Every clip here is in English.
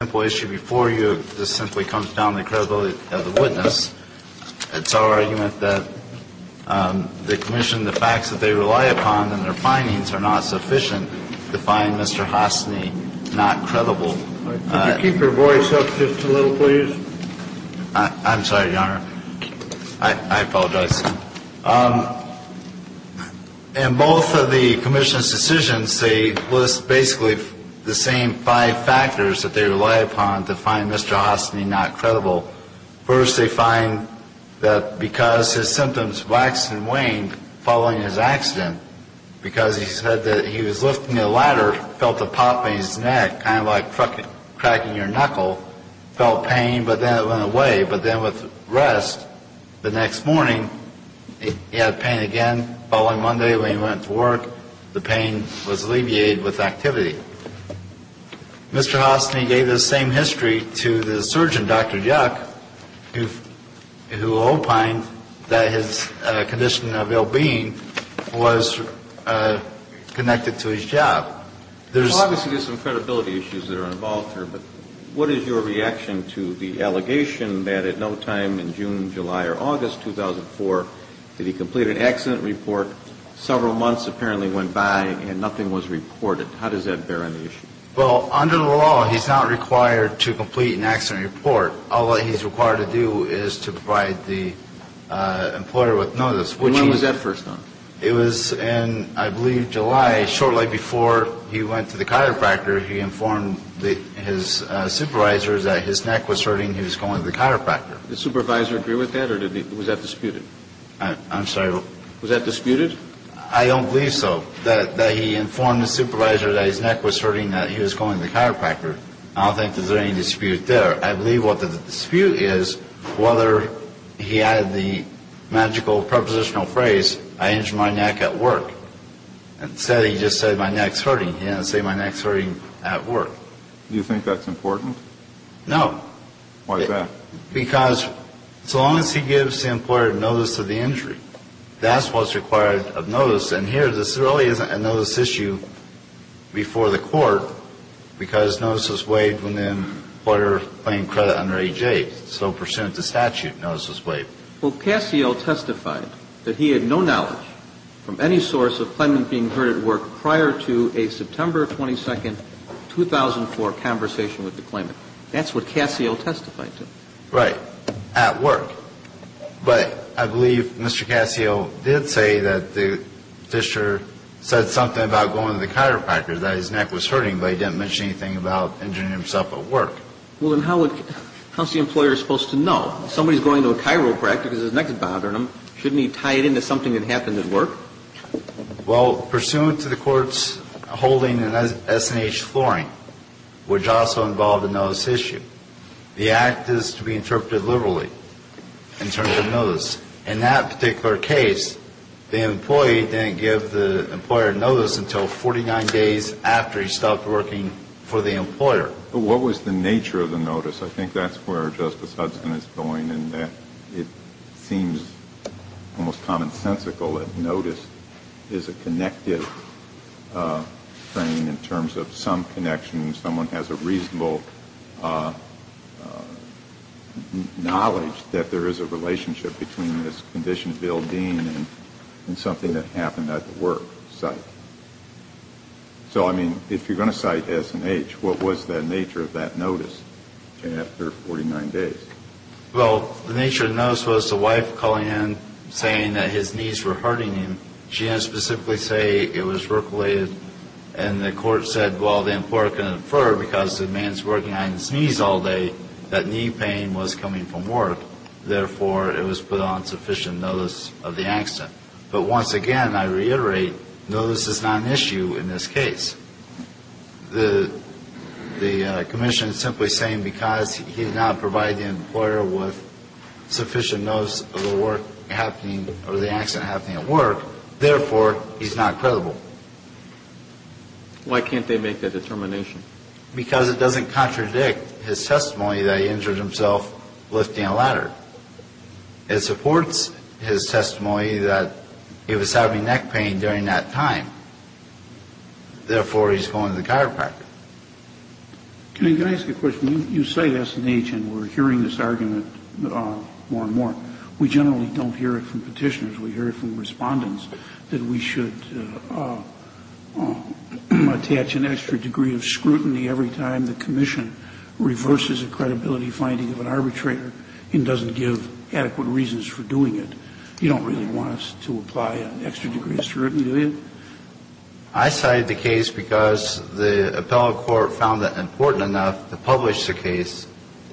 before you, this simply comes down to the credibility of the witness. It's our argument that the commission, the facts that they rely upon and their findings are not sufficient to find Mr. Hostny not credible. Could you keep your voice up just a little, please? I'm sorry, Your Honor. I apologize. In both of the commission's decisions, they list basically the same five factors that they rely upon to find Mr. Hostny not credible. First, they find that because his symptoms waxed and waned following his accident, because he said that he was lifting a ladder, felt a pop in his neck, kind of like cracking your knuckle, felt pain, but then it went away. But then with rest, the next morning, he had pain again. Following Monday, when he went to work, the pain was alleviated with activity. Mr. Hostny gave the same history to the surgeon, Dr. Yuck, who opined that his condition of ill-being was connected to his job. There's obviously some credibility issues that are involved here, but what is your reaction to the allegation that at no time in June, July, or August 2004 did he complete an accident report, several months apparently went by, and nothing was reported? How does that bear on the issue? Well, under the law, he's not required to complete an accident report. All that he's required to do is to provide the employer with notice, which he – And when was that first done? It was in, I believe, July. Shortly before he went to the chiropractor, he informed his supervisor that his neck was hurting. He was going to the chiropractor. Did the supervisor agree with that, or was that disputed? I'm sorry. Was that disputed? I don't believe so, that he informed his supervisor that his neck was hurting, that he was going to the chiropractor. I don't think there's any dispute there. I believe what the dispute is, whether he added the magical prepositional phrase, I injured my neck at work. Instead, he just said, my neck's hurting. He didn't say, my neck's hurting at work. Do you think that's important? No. Why's that? Because so long as he gives the employer notice of the injury, that's what's required of notice. And here, this really isn't a notice issue before the court, because notice was waived when the employer claimed credit under age 8. So pursuant to statute, notice was waived. Well, Casio testified that he had no knowledge from any source of claimant being hurt at work prior to a September 22, 2004, conversation with the claimant. That's what Casio testified to. Right. At work. But I believe Mr. Casio did say that the officer said something about going to the chiropractor, that his neck was hurting, but he didn't mention anything about injuring himself at work. Well, then how would the employer supposed to know? If somebody's going to a chiropractor because his neck is bothering him, shouldn't he tie it into something that happened at work? Well, pursuant to the court's holding in S&H flooring, which also involved a notice issue, the act is to be interpreted liberally in terms of notice. In that particular case, the employee didn't give the employer notice until 49 days after he stopped working for the employer. But what was the nature of the notice? I think that's where Justice Hudson is going in that it seems almost commonsensical that notice is a connected frame in terms of some connection and someone has a reasonable knowledge that there is a relationship between this condition of ill-being and something that happened at the work site. So, I mean, if you're going to cite S&H, what was the nature of that notice after 49 days? Well, the nature of the notice was the wife calling in saying that his knees were because the man's working on his knees all day, that knee pain was coming from work. Therefore, it was put on sufficient notice of the accident. But once again, I reiterate, notice is not an issue in this case. The commission is simply saying because he did not provide the employer with sufficient notice of the work happening or the accident happening at work, therefore, he's not credible. Why can't they make that determination? Because it doesn't contradict his testimony that he injured himself lifting a ladder. It supports his testimony that he was having neck pain during that time. Therefore, he's going to the chiropractor. Can I ask a question? You cite S&H and we're hearing this argument more and more. We generally don't hear it from Petitioners. We hear it from Respondents, that we should attach an extra degree of scrutiny every time the commission reverses a credibility finding of an arbitrator and doesn't give adequate reasons for doing it. You don't really want us to apply an extra degree of scrutiny, do you? I cited the case because the appellate court found it important enough to publish the case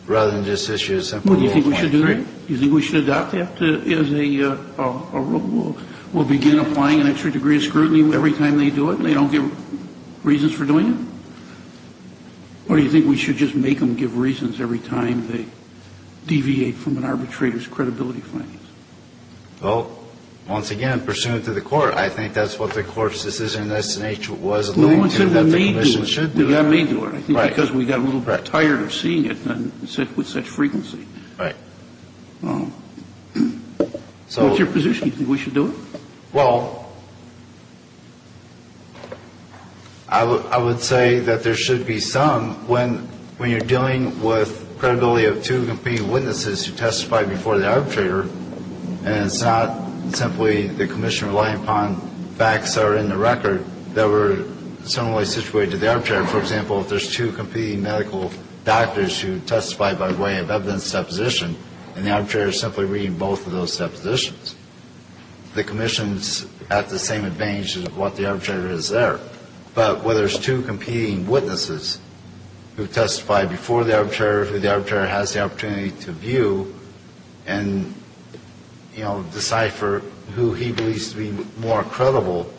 rather than just issue a simple ruling. What do you think we should do? Do you think we should adopt that as a rule? We'll begin applying an extra degree of scrutiny every time they do it and they don't give reasons for doing it? Or do you think we should just make them give reasons every time they deviate from an arbitrator's credibility findings? Well, once again, pursuant to the court, I think that's what the court's decision in S&H was alluding to. No one said they may do it. The commission should do it. They may do it. Right. Because we got a little bit tired of seeing it with such frequency. Right. Well, what's your position? Do you think we should do it? Well, I would say that there should be some when you're dealing with credibility of two competing witnesses who testified before the arbitrator and it's not simply the commission relying upon facts that are in the record that were similarly situated to the arbitrator. For example, if there's two competing medical doctors who testified by way of evidence deposition and the arbitrator is simply reading both of those depositions, the commission's at the same advantage as what the arbitrator is there. But where there's two competing witnesses who testified before the arbitrator who the arbitrator has the opportunity to view and, you know, decipher who he believes to be more credible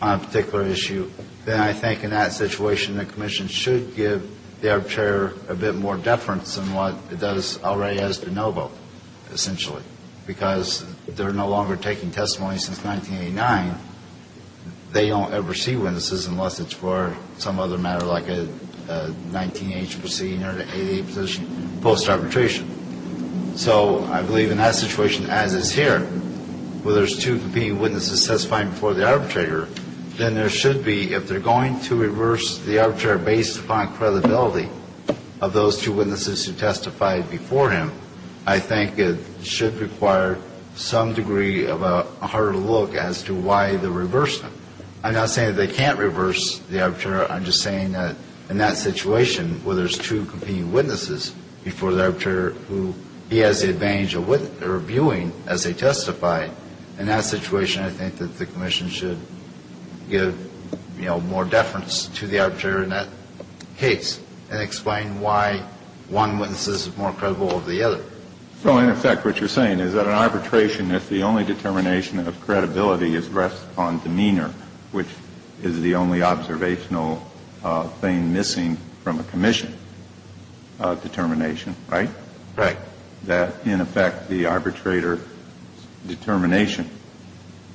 on a particular issue, then I think in that situation the commission should give the arbitrator a bit more deference than what it does already has to know about, essentially, because they're no longer taking testimony since 1989. They don't ever see witnesses unless it's for some other matter like a 19-H proceeding or an 88 position post-arbitration. So I believe in that situation, as is here, where there's two competing witnesses testifying before the arbitrator, then there should be, if they're going to reverse the arbitrator based upon credibility of those two witnesses who testified before him, I think it should require some degree of a harder look as to why they reversed him. I'm not saying that they can't reverse the arbitrator. I'm just saying that in that situation where there's two competing witnesses before the arbitrator who he has the advantage of viewing as they testify, in that situation I think that the commission should give, you know, more deference to the arbitrator in that case and explain why one witness is more credible than the other. So in effect what you're saying is that an arbitration, if the only determination of credibility is based on demeanor, which is the only observational thing missing from a commission determination, right? Right. That in effect the arbitrator's determination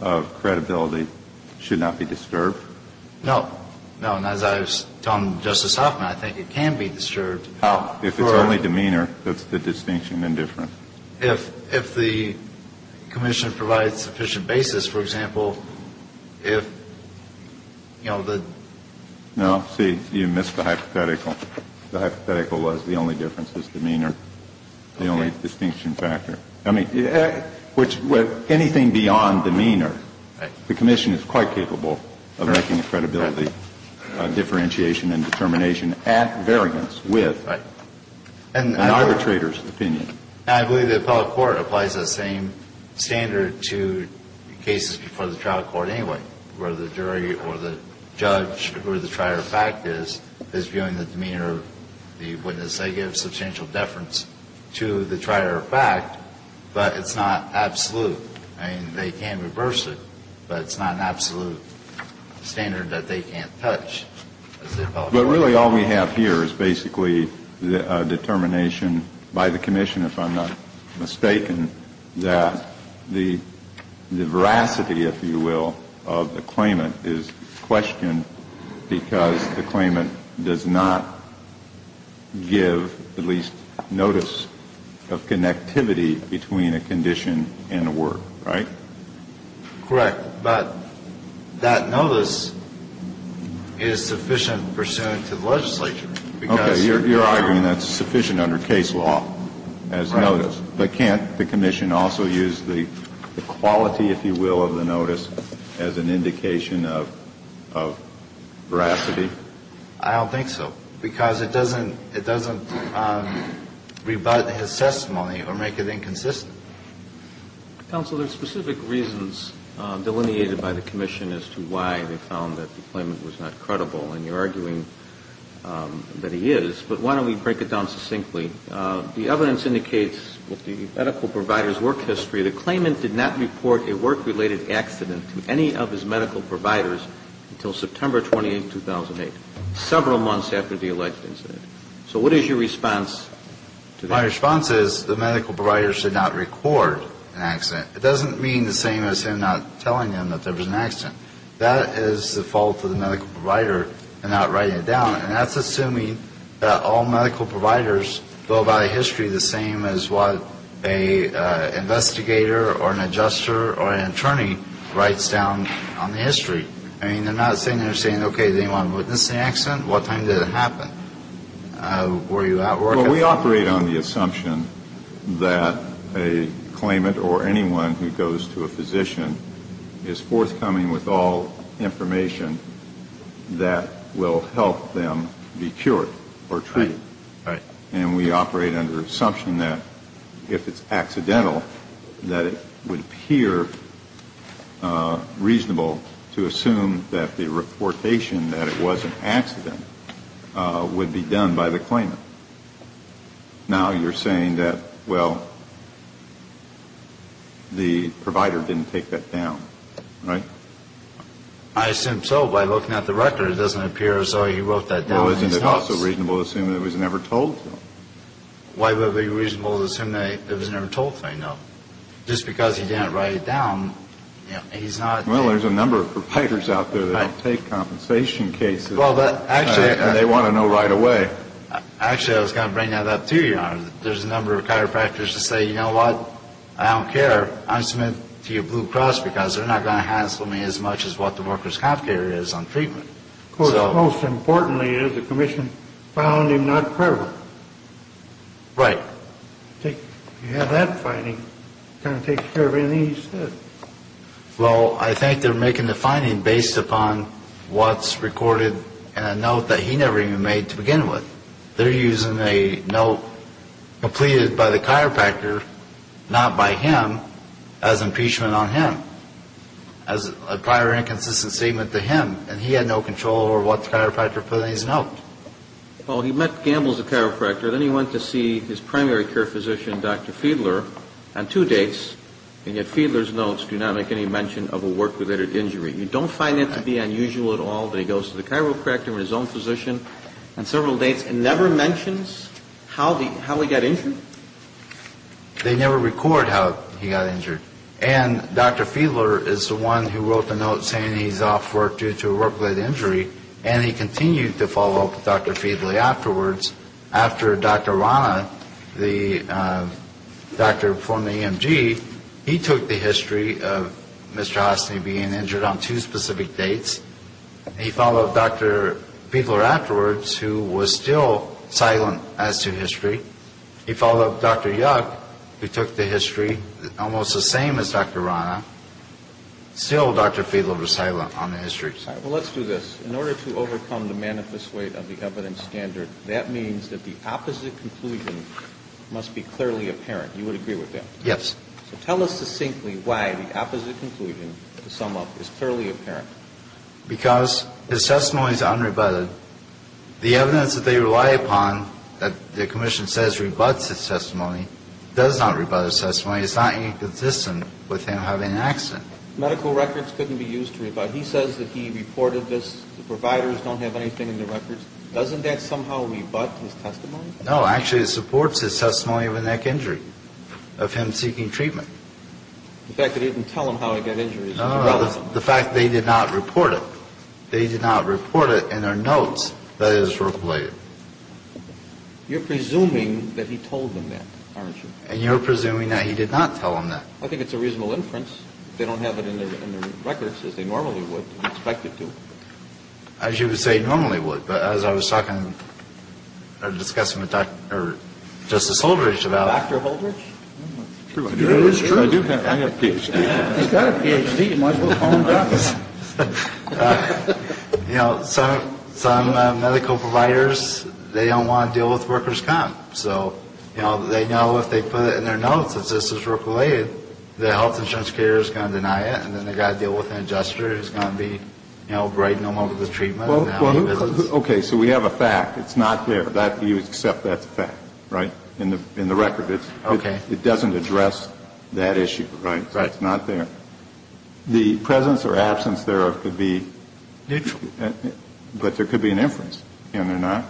of credibility should not be disturbed? No. No. And as I've told Justice Hoffman, I think it can be disturbed. How? If it's only demeanor, that's the distinction and difference. If the commission provides sufficient basis, for example, if, you know, the ---- No. See, you missed the hypothetical. The hypothetical was the only difference is demeanor, the only distinction factor. I mean, which anything beyond demeanor, the commission is quite capable of making a credibility differentiation and determination at variance with an arbitrator's opinion. I believe the appellate court applies that same standard to cases before the trial court anyway, where the jury or the judge or the trier of fact is, is viewing the demeanor of the witness. They give substantial deference to the trier of fact, but it's not absolute. I mean, they can reverse it, but it's not an absolute standard that they can't touch. But really all we have here is basically a determination by the commission if I'm not mistaken, that the veracity, if you will, of the claimant is questioned because the claimant does not give at least notice of connectivity between a condition and a word. Right? Correct. But that notice is sufficient pursuant to the legislature. Okay. You're arguing that's sufficient under case law as notice, but can't the commission also use the quality, if you will, of the notice as an indication of, of veracity? I don't think so, because it doesn't, it doesn't rebut his testimony or make it inconsistent. Counsel, there are specific reasons delineated by the commission as to why they found that the claimant was not credible. And you're arguing that he is. But why don't we break it down succinctly? The evidence indicates with the medical provider's work history, the claimant did not report a work-related accident to any of his medical providers until September 28, 2008, several months after the alleged incident. So what is your response to that? My response is the medical provider should not record an accident. It doesn't mean the same as him not telling him that there was an accident. That is the fault of the medical provider in not writing it down. And that's assuming that all medical providers go by history the same as what an investigator or an adjuster or an attorney writes down on the history. I mean, they're not saying they're saying, okay, they want to witness the accident. What time did it happen? Were you at work at the time? Well, we operate on the assumption that a claimant or anyone who goes to a physician is forthcoming with all information that will help them be cured or treated. Right. And we operate under the assumption that if it's accidental, that it would appear reasonable to assume that the reportation that it was an accident would be done by the claimant. Now you're saying that, well, the provider didn't take that down, right? I assume so. By looking at the record, it doesn't appear as though he wrote that down in his notes. Well, isn't it also reasonable to assume that it was never told to him? Why would it be reasonable to assume that it was never told to him? No. Just because he didn't write it down, you know, he's not. Well, there's a number of providers out there that take compensation cases. And they want to know right away. Actually, I was going to bring that up to you, Your Honor. There's a number of chiropractors that say, you know what, I don't care. I submit to your Blue Cross because they're not going to hassle me as much as what the workers' health care is on treatment. Of course, most importantly is the commission found him not curable. Right. If you have that finding, it kind of takes care of anything he says. Well, I think they're making the finding based upon what's recorded in a note that he never even made to begin with. They're using a note completed by the chiropractor, not by him, as impeachment on him, as a prior inconsistent statement to him. And he had no control over what the chiropractor put in his note. Well, he met Gamble as a chiropractor. Then he went to see his primary care physician, Dr. Fiedler, on two dates. And yet Fiedler's notes do not make any mention of a work-related injury. You don't find it to be unusual at all that he goes to the chiropractor or his own physician on several dates and never mentions how he got injured? They never record how he got injured. And Dr. Fiedler is the one who wrote the note saying he's off work due to a work-related injury, and he continued to follow up with Dr. Fiedler afterwards. After Dr. Rana, the doctor from the EMG, he took the history of Mr. Hosny being injured on two specific dates. He followed up Dr. Fiedler afterwards, who was still silent as to history. He followed up Dr. Yuck, who took the history almost the same as Dr. Rana. Still, Dr. Fiedler was silent on the history. All right. Well, let's do this. In order to overcome the manifest weight of the evidence standard, that means that the opposite conclusion must be clearly apparent. You would agree with that? Yes. So tell us succinctly why the opposite conclusion, to sum up, is clearly apparent. Because his testimony is unrebutted. The evidence that they rely upon that the commission says rebuts his testimony does not rebut his testimony. It's not inconsistent with him having an accident. Medical records couldn't be used to rebut. He says that he reported this. The providers don't have anything in their records. Doesn't that somehow rebut his testimony? No. Actually, it supports his testimony of a neck injury, of him seeking treatment. The fact that he didn't tell them how he got injured is irrelevant. No, no, no. The fact that he did not report it. That he did not report it in their notes, that is related. You're presuming that he told them that, aren't you? And you're presuming that he did not tell them that. I think it's a reasonable inference. They don't have it in their records as they normally would and expect it to. As you would say, normally would. But as I was talking or discussing with Justice Holdridge about it. Dr. Holdridge? It is true. I have a Ph.D. He's got a Ph.D. He might as well call him Dr. You know, some medical providers, they don't want to deal with workers' comp. So, you know, they know if they put it in their notes that this is work-related, the health insurance carrier is going to deny it and then they've got to deal with an adjuster who's going to be, you know, brighten them up with the treatment. Okay. So we have a fact. It's not there. You accept that's a fact, right? In the record. Okay. It doesn't address that issue, right? Right. It's not there. The presence or absence thereof could be. Neutral. But there could be an inference. And they're not.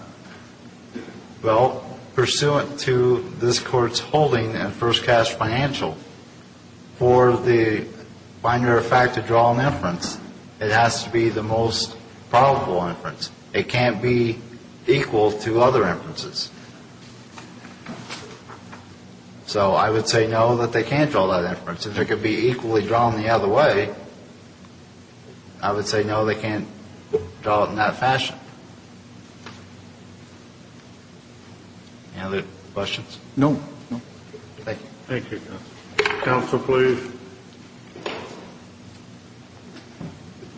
Well, pursuant to this Court's holding in first cash financial, for the finder of fact to draw an inference, it has to be the most probable inference. It can't be equal to other inferences. So I would say no, that they can't draw that inference. If it could be equally drawn the other way, I would say no, they can't draw it in that fashion. Any other questions? No. Thank you. Thank you. Counsel, please.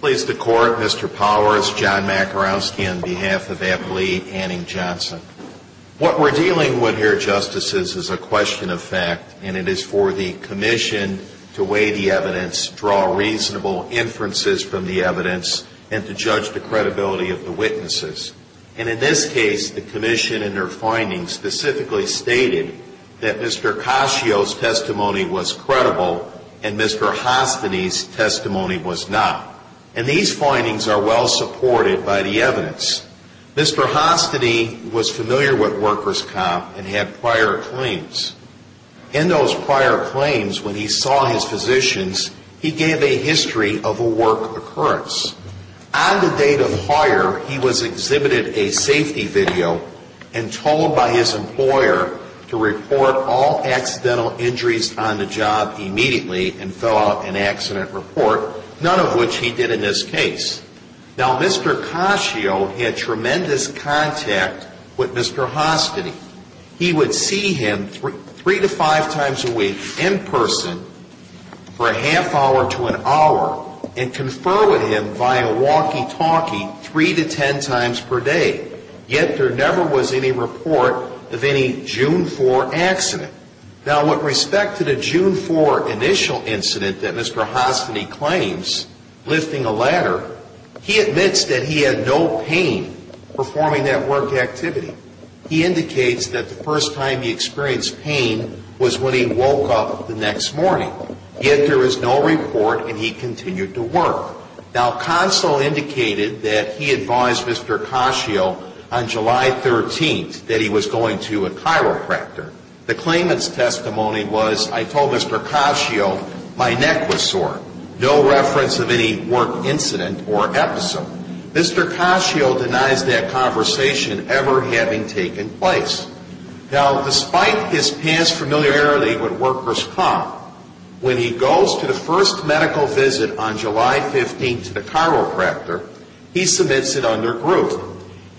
Please, the Court. Mr. Powers, John Makarowski on behalf of Appley, Anning, Johnson. What we're dealing with here, Justices, is a question of fact, and it is for the commission to weigh the evidence, draw reasonable inferences from the evidence, and to judge the credibility of the witnesses. And in this case, the commission in their findings specifically stated that Mr. Cascio's testimony was credible and Mr. Hostiny's testimony was not. And these findings are well supported by the evidence. Mr. Hostiny was familiar with workers' comp and had prior claims. In those prior claims, when he saw his physicians, he gave a history of a work occurrence. On the date of hire, he was exhibited a safety video and told by his employer to report all accidental injuries on the job immediately and fill out an accident report, none of which he did in this case. Now, Mr. Cascio had tremendous contact with Mr. Hostiny. He would see him three to five times a week in person for a half hour to an hour and confer with him via walkie-talkie three to ten times per day. Yet, there never was any report of any June 4 accident. Now, with respect to the June 4 initial incident that Mr. Hostiny claims, lifting a ladder, he admits that he had no pain performing that work activity. He indicates that the first time he experienced pain was when he woke up the next morning. Yet, there was no report and he continued to work. Now, Consul indicated that he advised Mr. Cascio on July 13th that he was going to a chiropractor. The claimant's testimony was, I told Mr. Cascio my neck was sore. No reference of any work incident or episode. Mr. Cascio denies that conversation ever having taken place. Now, despite his past familiarity with workers' comp, when he goes to the first medical visit on July 15th to the chiropractor, he submits it under group.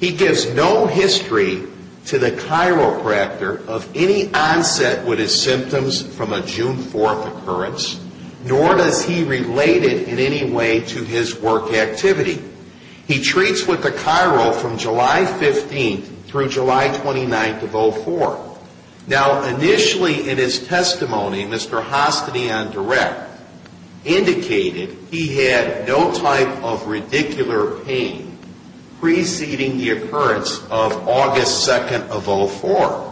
He gives no history to the chiropractor of any onset with his symptoms from a June 4 occurrence, nor does he relate it in any way to his work activity. He treats with the chiro from July 15th through July 29th of 04. Now, initially in his testimony, Mr. Hostiny on direct indicated he had no type of ridicular pain preceding the occurrence of August 2nd of 04.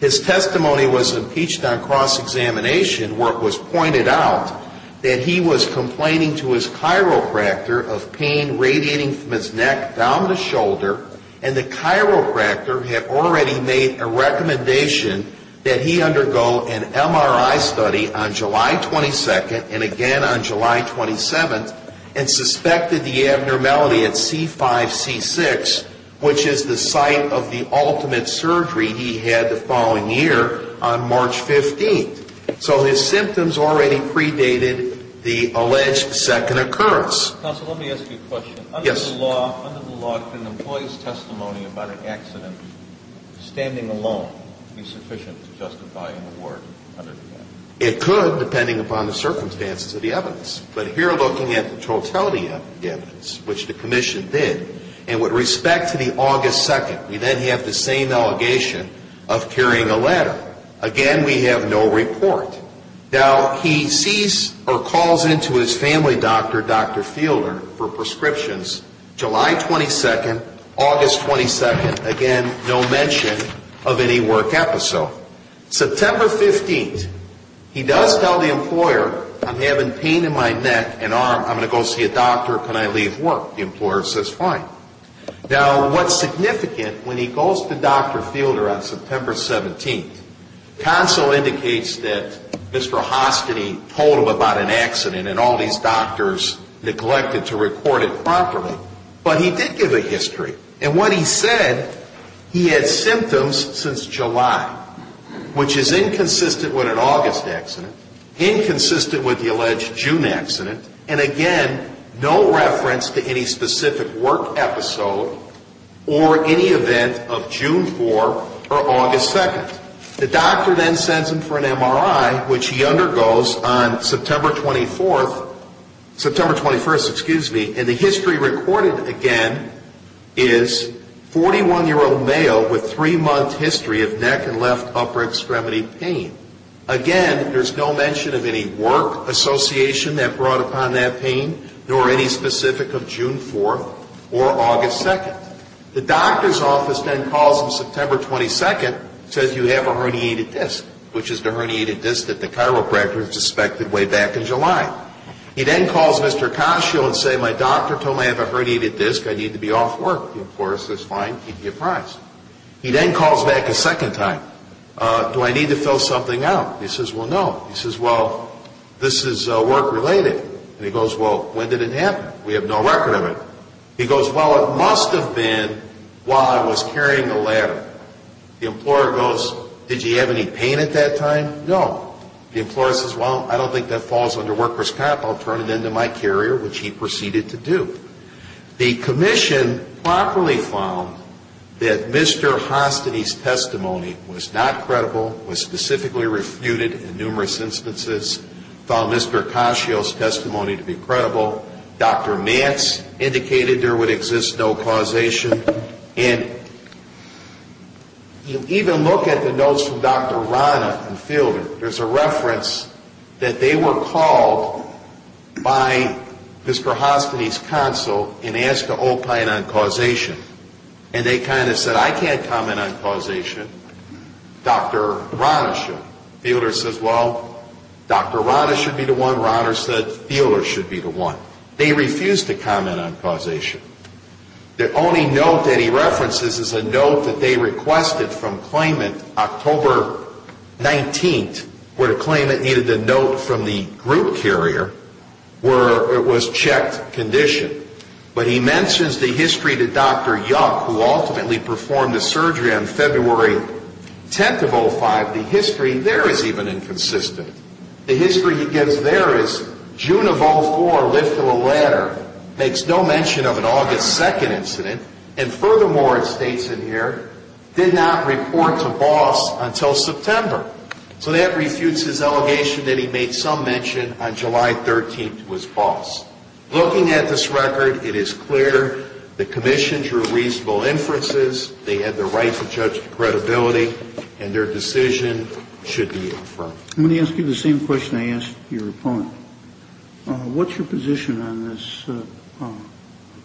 His testimony was impeached on cross-examination where it was pointed out that he was complaining to his chiropractor of pain radiating from his neck down the shoulder and the chiropractor had already made a recommendation that he undergo an MRI study on July 22nd and again on July 27th and suspected the abnormality at C5-C6, which is the site of the ultimate surgery he had the following year on March 15th. So his symptoms already predated the alleged second occurrence. Counsel, let me ask you a question. Yes. Under the law, under the law, can an employee's testimony about an accident standing alone be sufficient to justify an award under the law? It could, depending upon the circumstances of the evidence. But here looking at the totality of the evidence, which the commission did, and with respect to the August 2nd, we then have the same allegation of carrying a letter. Again, we have no report. Now, he sees or calls into his family doctor, Dr. Fielder, for prescriptions July 22nd, August 22nd. Again, no mention of any work episode. September 15th, he does tell the employer, I'm having pain in my neck and arm. I'm going to go see a doctor. Can I leave work? The employer says fine. Now, what's significant, when he goes to Dr. Fielder on September 17th, counsel indicates that Mr. Hostany told him about an accident and all these doctors neglected to record it properly, but he did give a history. And what he said, he had symptoms since July, which is inconsistent with an August accident, inconsistent with the alleged June accident, and again, no reference to any specific work episode or any event of June 4th or August 2nd. The doctor then sends him for an MRI, which he undergoes on September 24th, September 21st, excuse me, and the history recorded again is 41-year-old male with three-month history of neck and left upper extremity pain. Again, there's no mention of any work association that brought upon that pain nor any specific of June 4th or August 2nd. The doctor's office then calls him September 22nd, says you have a herniated disc, which is the herniated disc that the chiropractor suspected way back in July. He then calls Mr. Cascio and says, my doctor told me I have a herniated disc. I need to be off work. The employer says fine. He'd be surprised. He then calls back a second time. Do I need to fill something out? He says, well, no. He says, well, this is work-related. And he goes, well, when did it happen? We have no record of it. He goes, well, it must have been while I was carrying the ladder. The employer goes, did you have any pain at that time? No. The employer says, well, I don't think that falls under worker's comp. I'll turn it into my carrier, which he proceeded to do. The commission properly found that Mr. Hostady's testimony was not credible, was specifically refuted in numerous instances, found Mr. Cascio's testimony to be credible. Dr. Mance indicated there would exist no causation. And you even look at the notes from Dr. Rana and Fielder, there's a reference that they were called by Mr. Hostady's counsel and asked to opine on causation. And they kind of said, I can't comment on causation. Dr. Rana should. Fielder says, well, Dr. Rana should be the one. Rana said Fielder should be the one. They refused to comment on causation. The only note that he references is a note that they requested from claimant October 19th, where the claimant needed the note from the group carrier where it was checked condition. But he mentions the history to Dr. Yuck, who ultimately performed the surgery on February 10th of 05. The history there is even inconsistent. The history he gives there is June of 04, lift of a ladder, makes no mention of an August 2nd incident, and furthermore, it states in here, did not report to Boss until September. So that refutes his allegation that he made some mention on July 13th to his boss. Looking at this record, it is clear the commission drew reasonable inferences, they had the right to judge the credibility, and their decision should be affirmed. I'm going to ask you the same question I asked your opponent. What's your position on this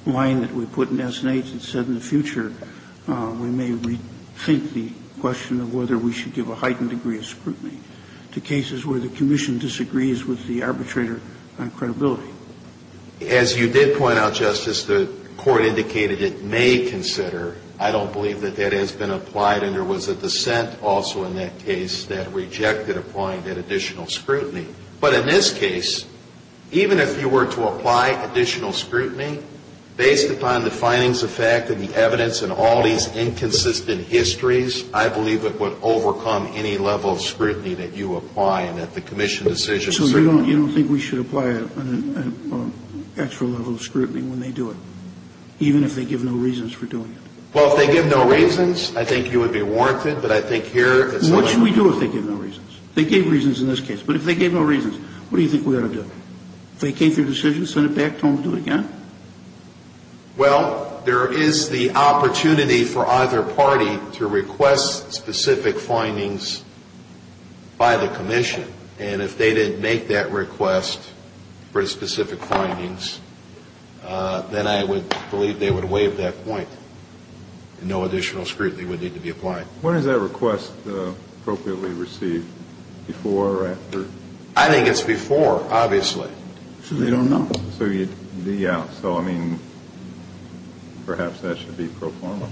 line that we put in S&H that said in the future we may rethink the question of whether we should give a heightened degree of scrutiny to cases where the commission disagrees with the arbitrator on credibility? As you did point out, Justice, the Court indicated it may consider. I don't believe that that has been applied, and there was a dissent also in that case that rejected applying that additional scrutiny. But in this case, even if you were to apply additional scrutiny, based upon the findings of fact and the evidence and all these inconsistent histories, I believe it would overcome any level of scrutiny that you apply and that the commission decisions. So you don't think we should apply an extra level of scrutiny when they do it, even if they give no reasons for doing it? Well, if they give no reasons, I think you would be warranted. But I think here it's not. What should we do if they give no reasons? They gave reasons in this case. But if they gave no reasons, what do you think we ought to do? If they came to a decision, send it back, don't do it again? Well, there is the opportunity for either party to request specific findings by the commission. And if they didn't make that request for specific findings, then I would believe they would waive that point and no additional scrutiny would need to be applied. When is that request appropriately received? Before or after? I think it's before, obviously. So they don't know? Yeah. So, I mean, perhaps that should be pro forma.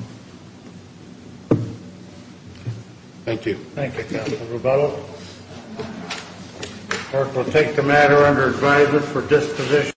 Thank you. Thank you, Counselor Rebello. Clerk will take the matter under advisement for disposition.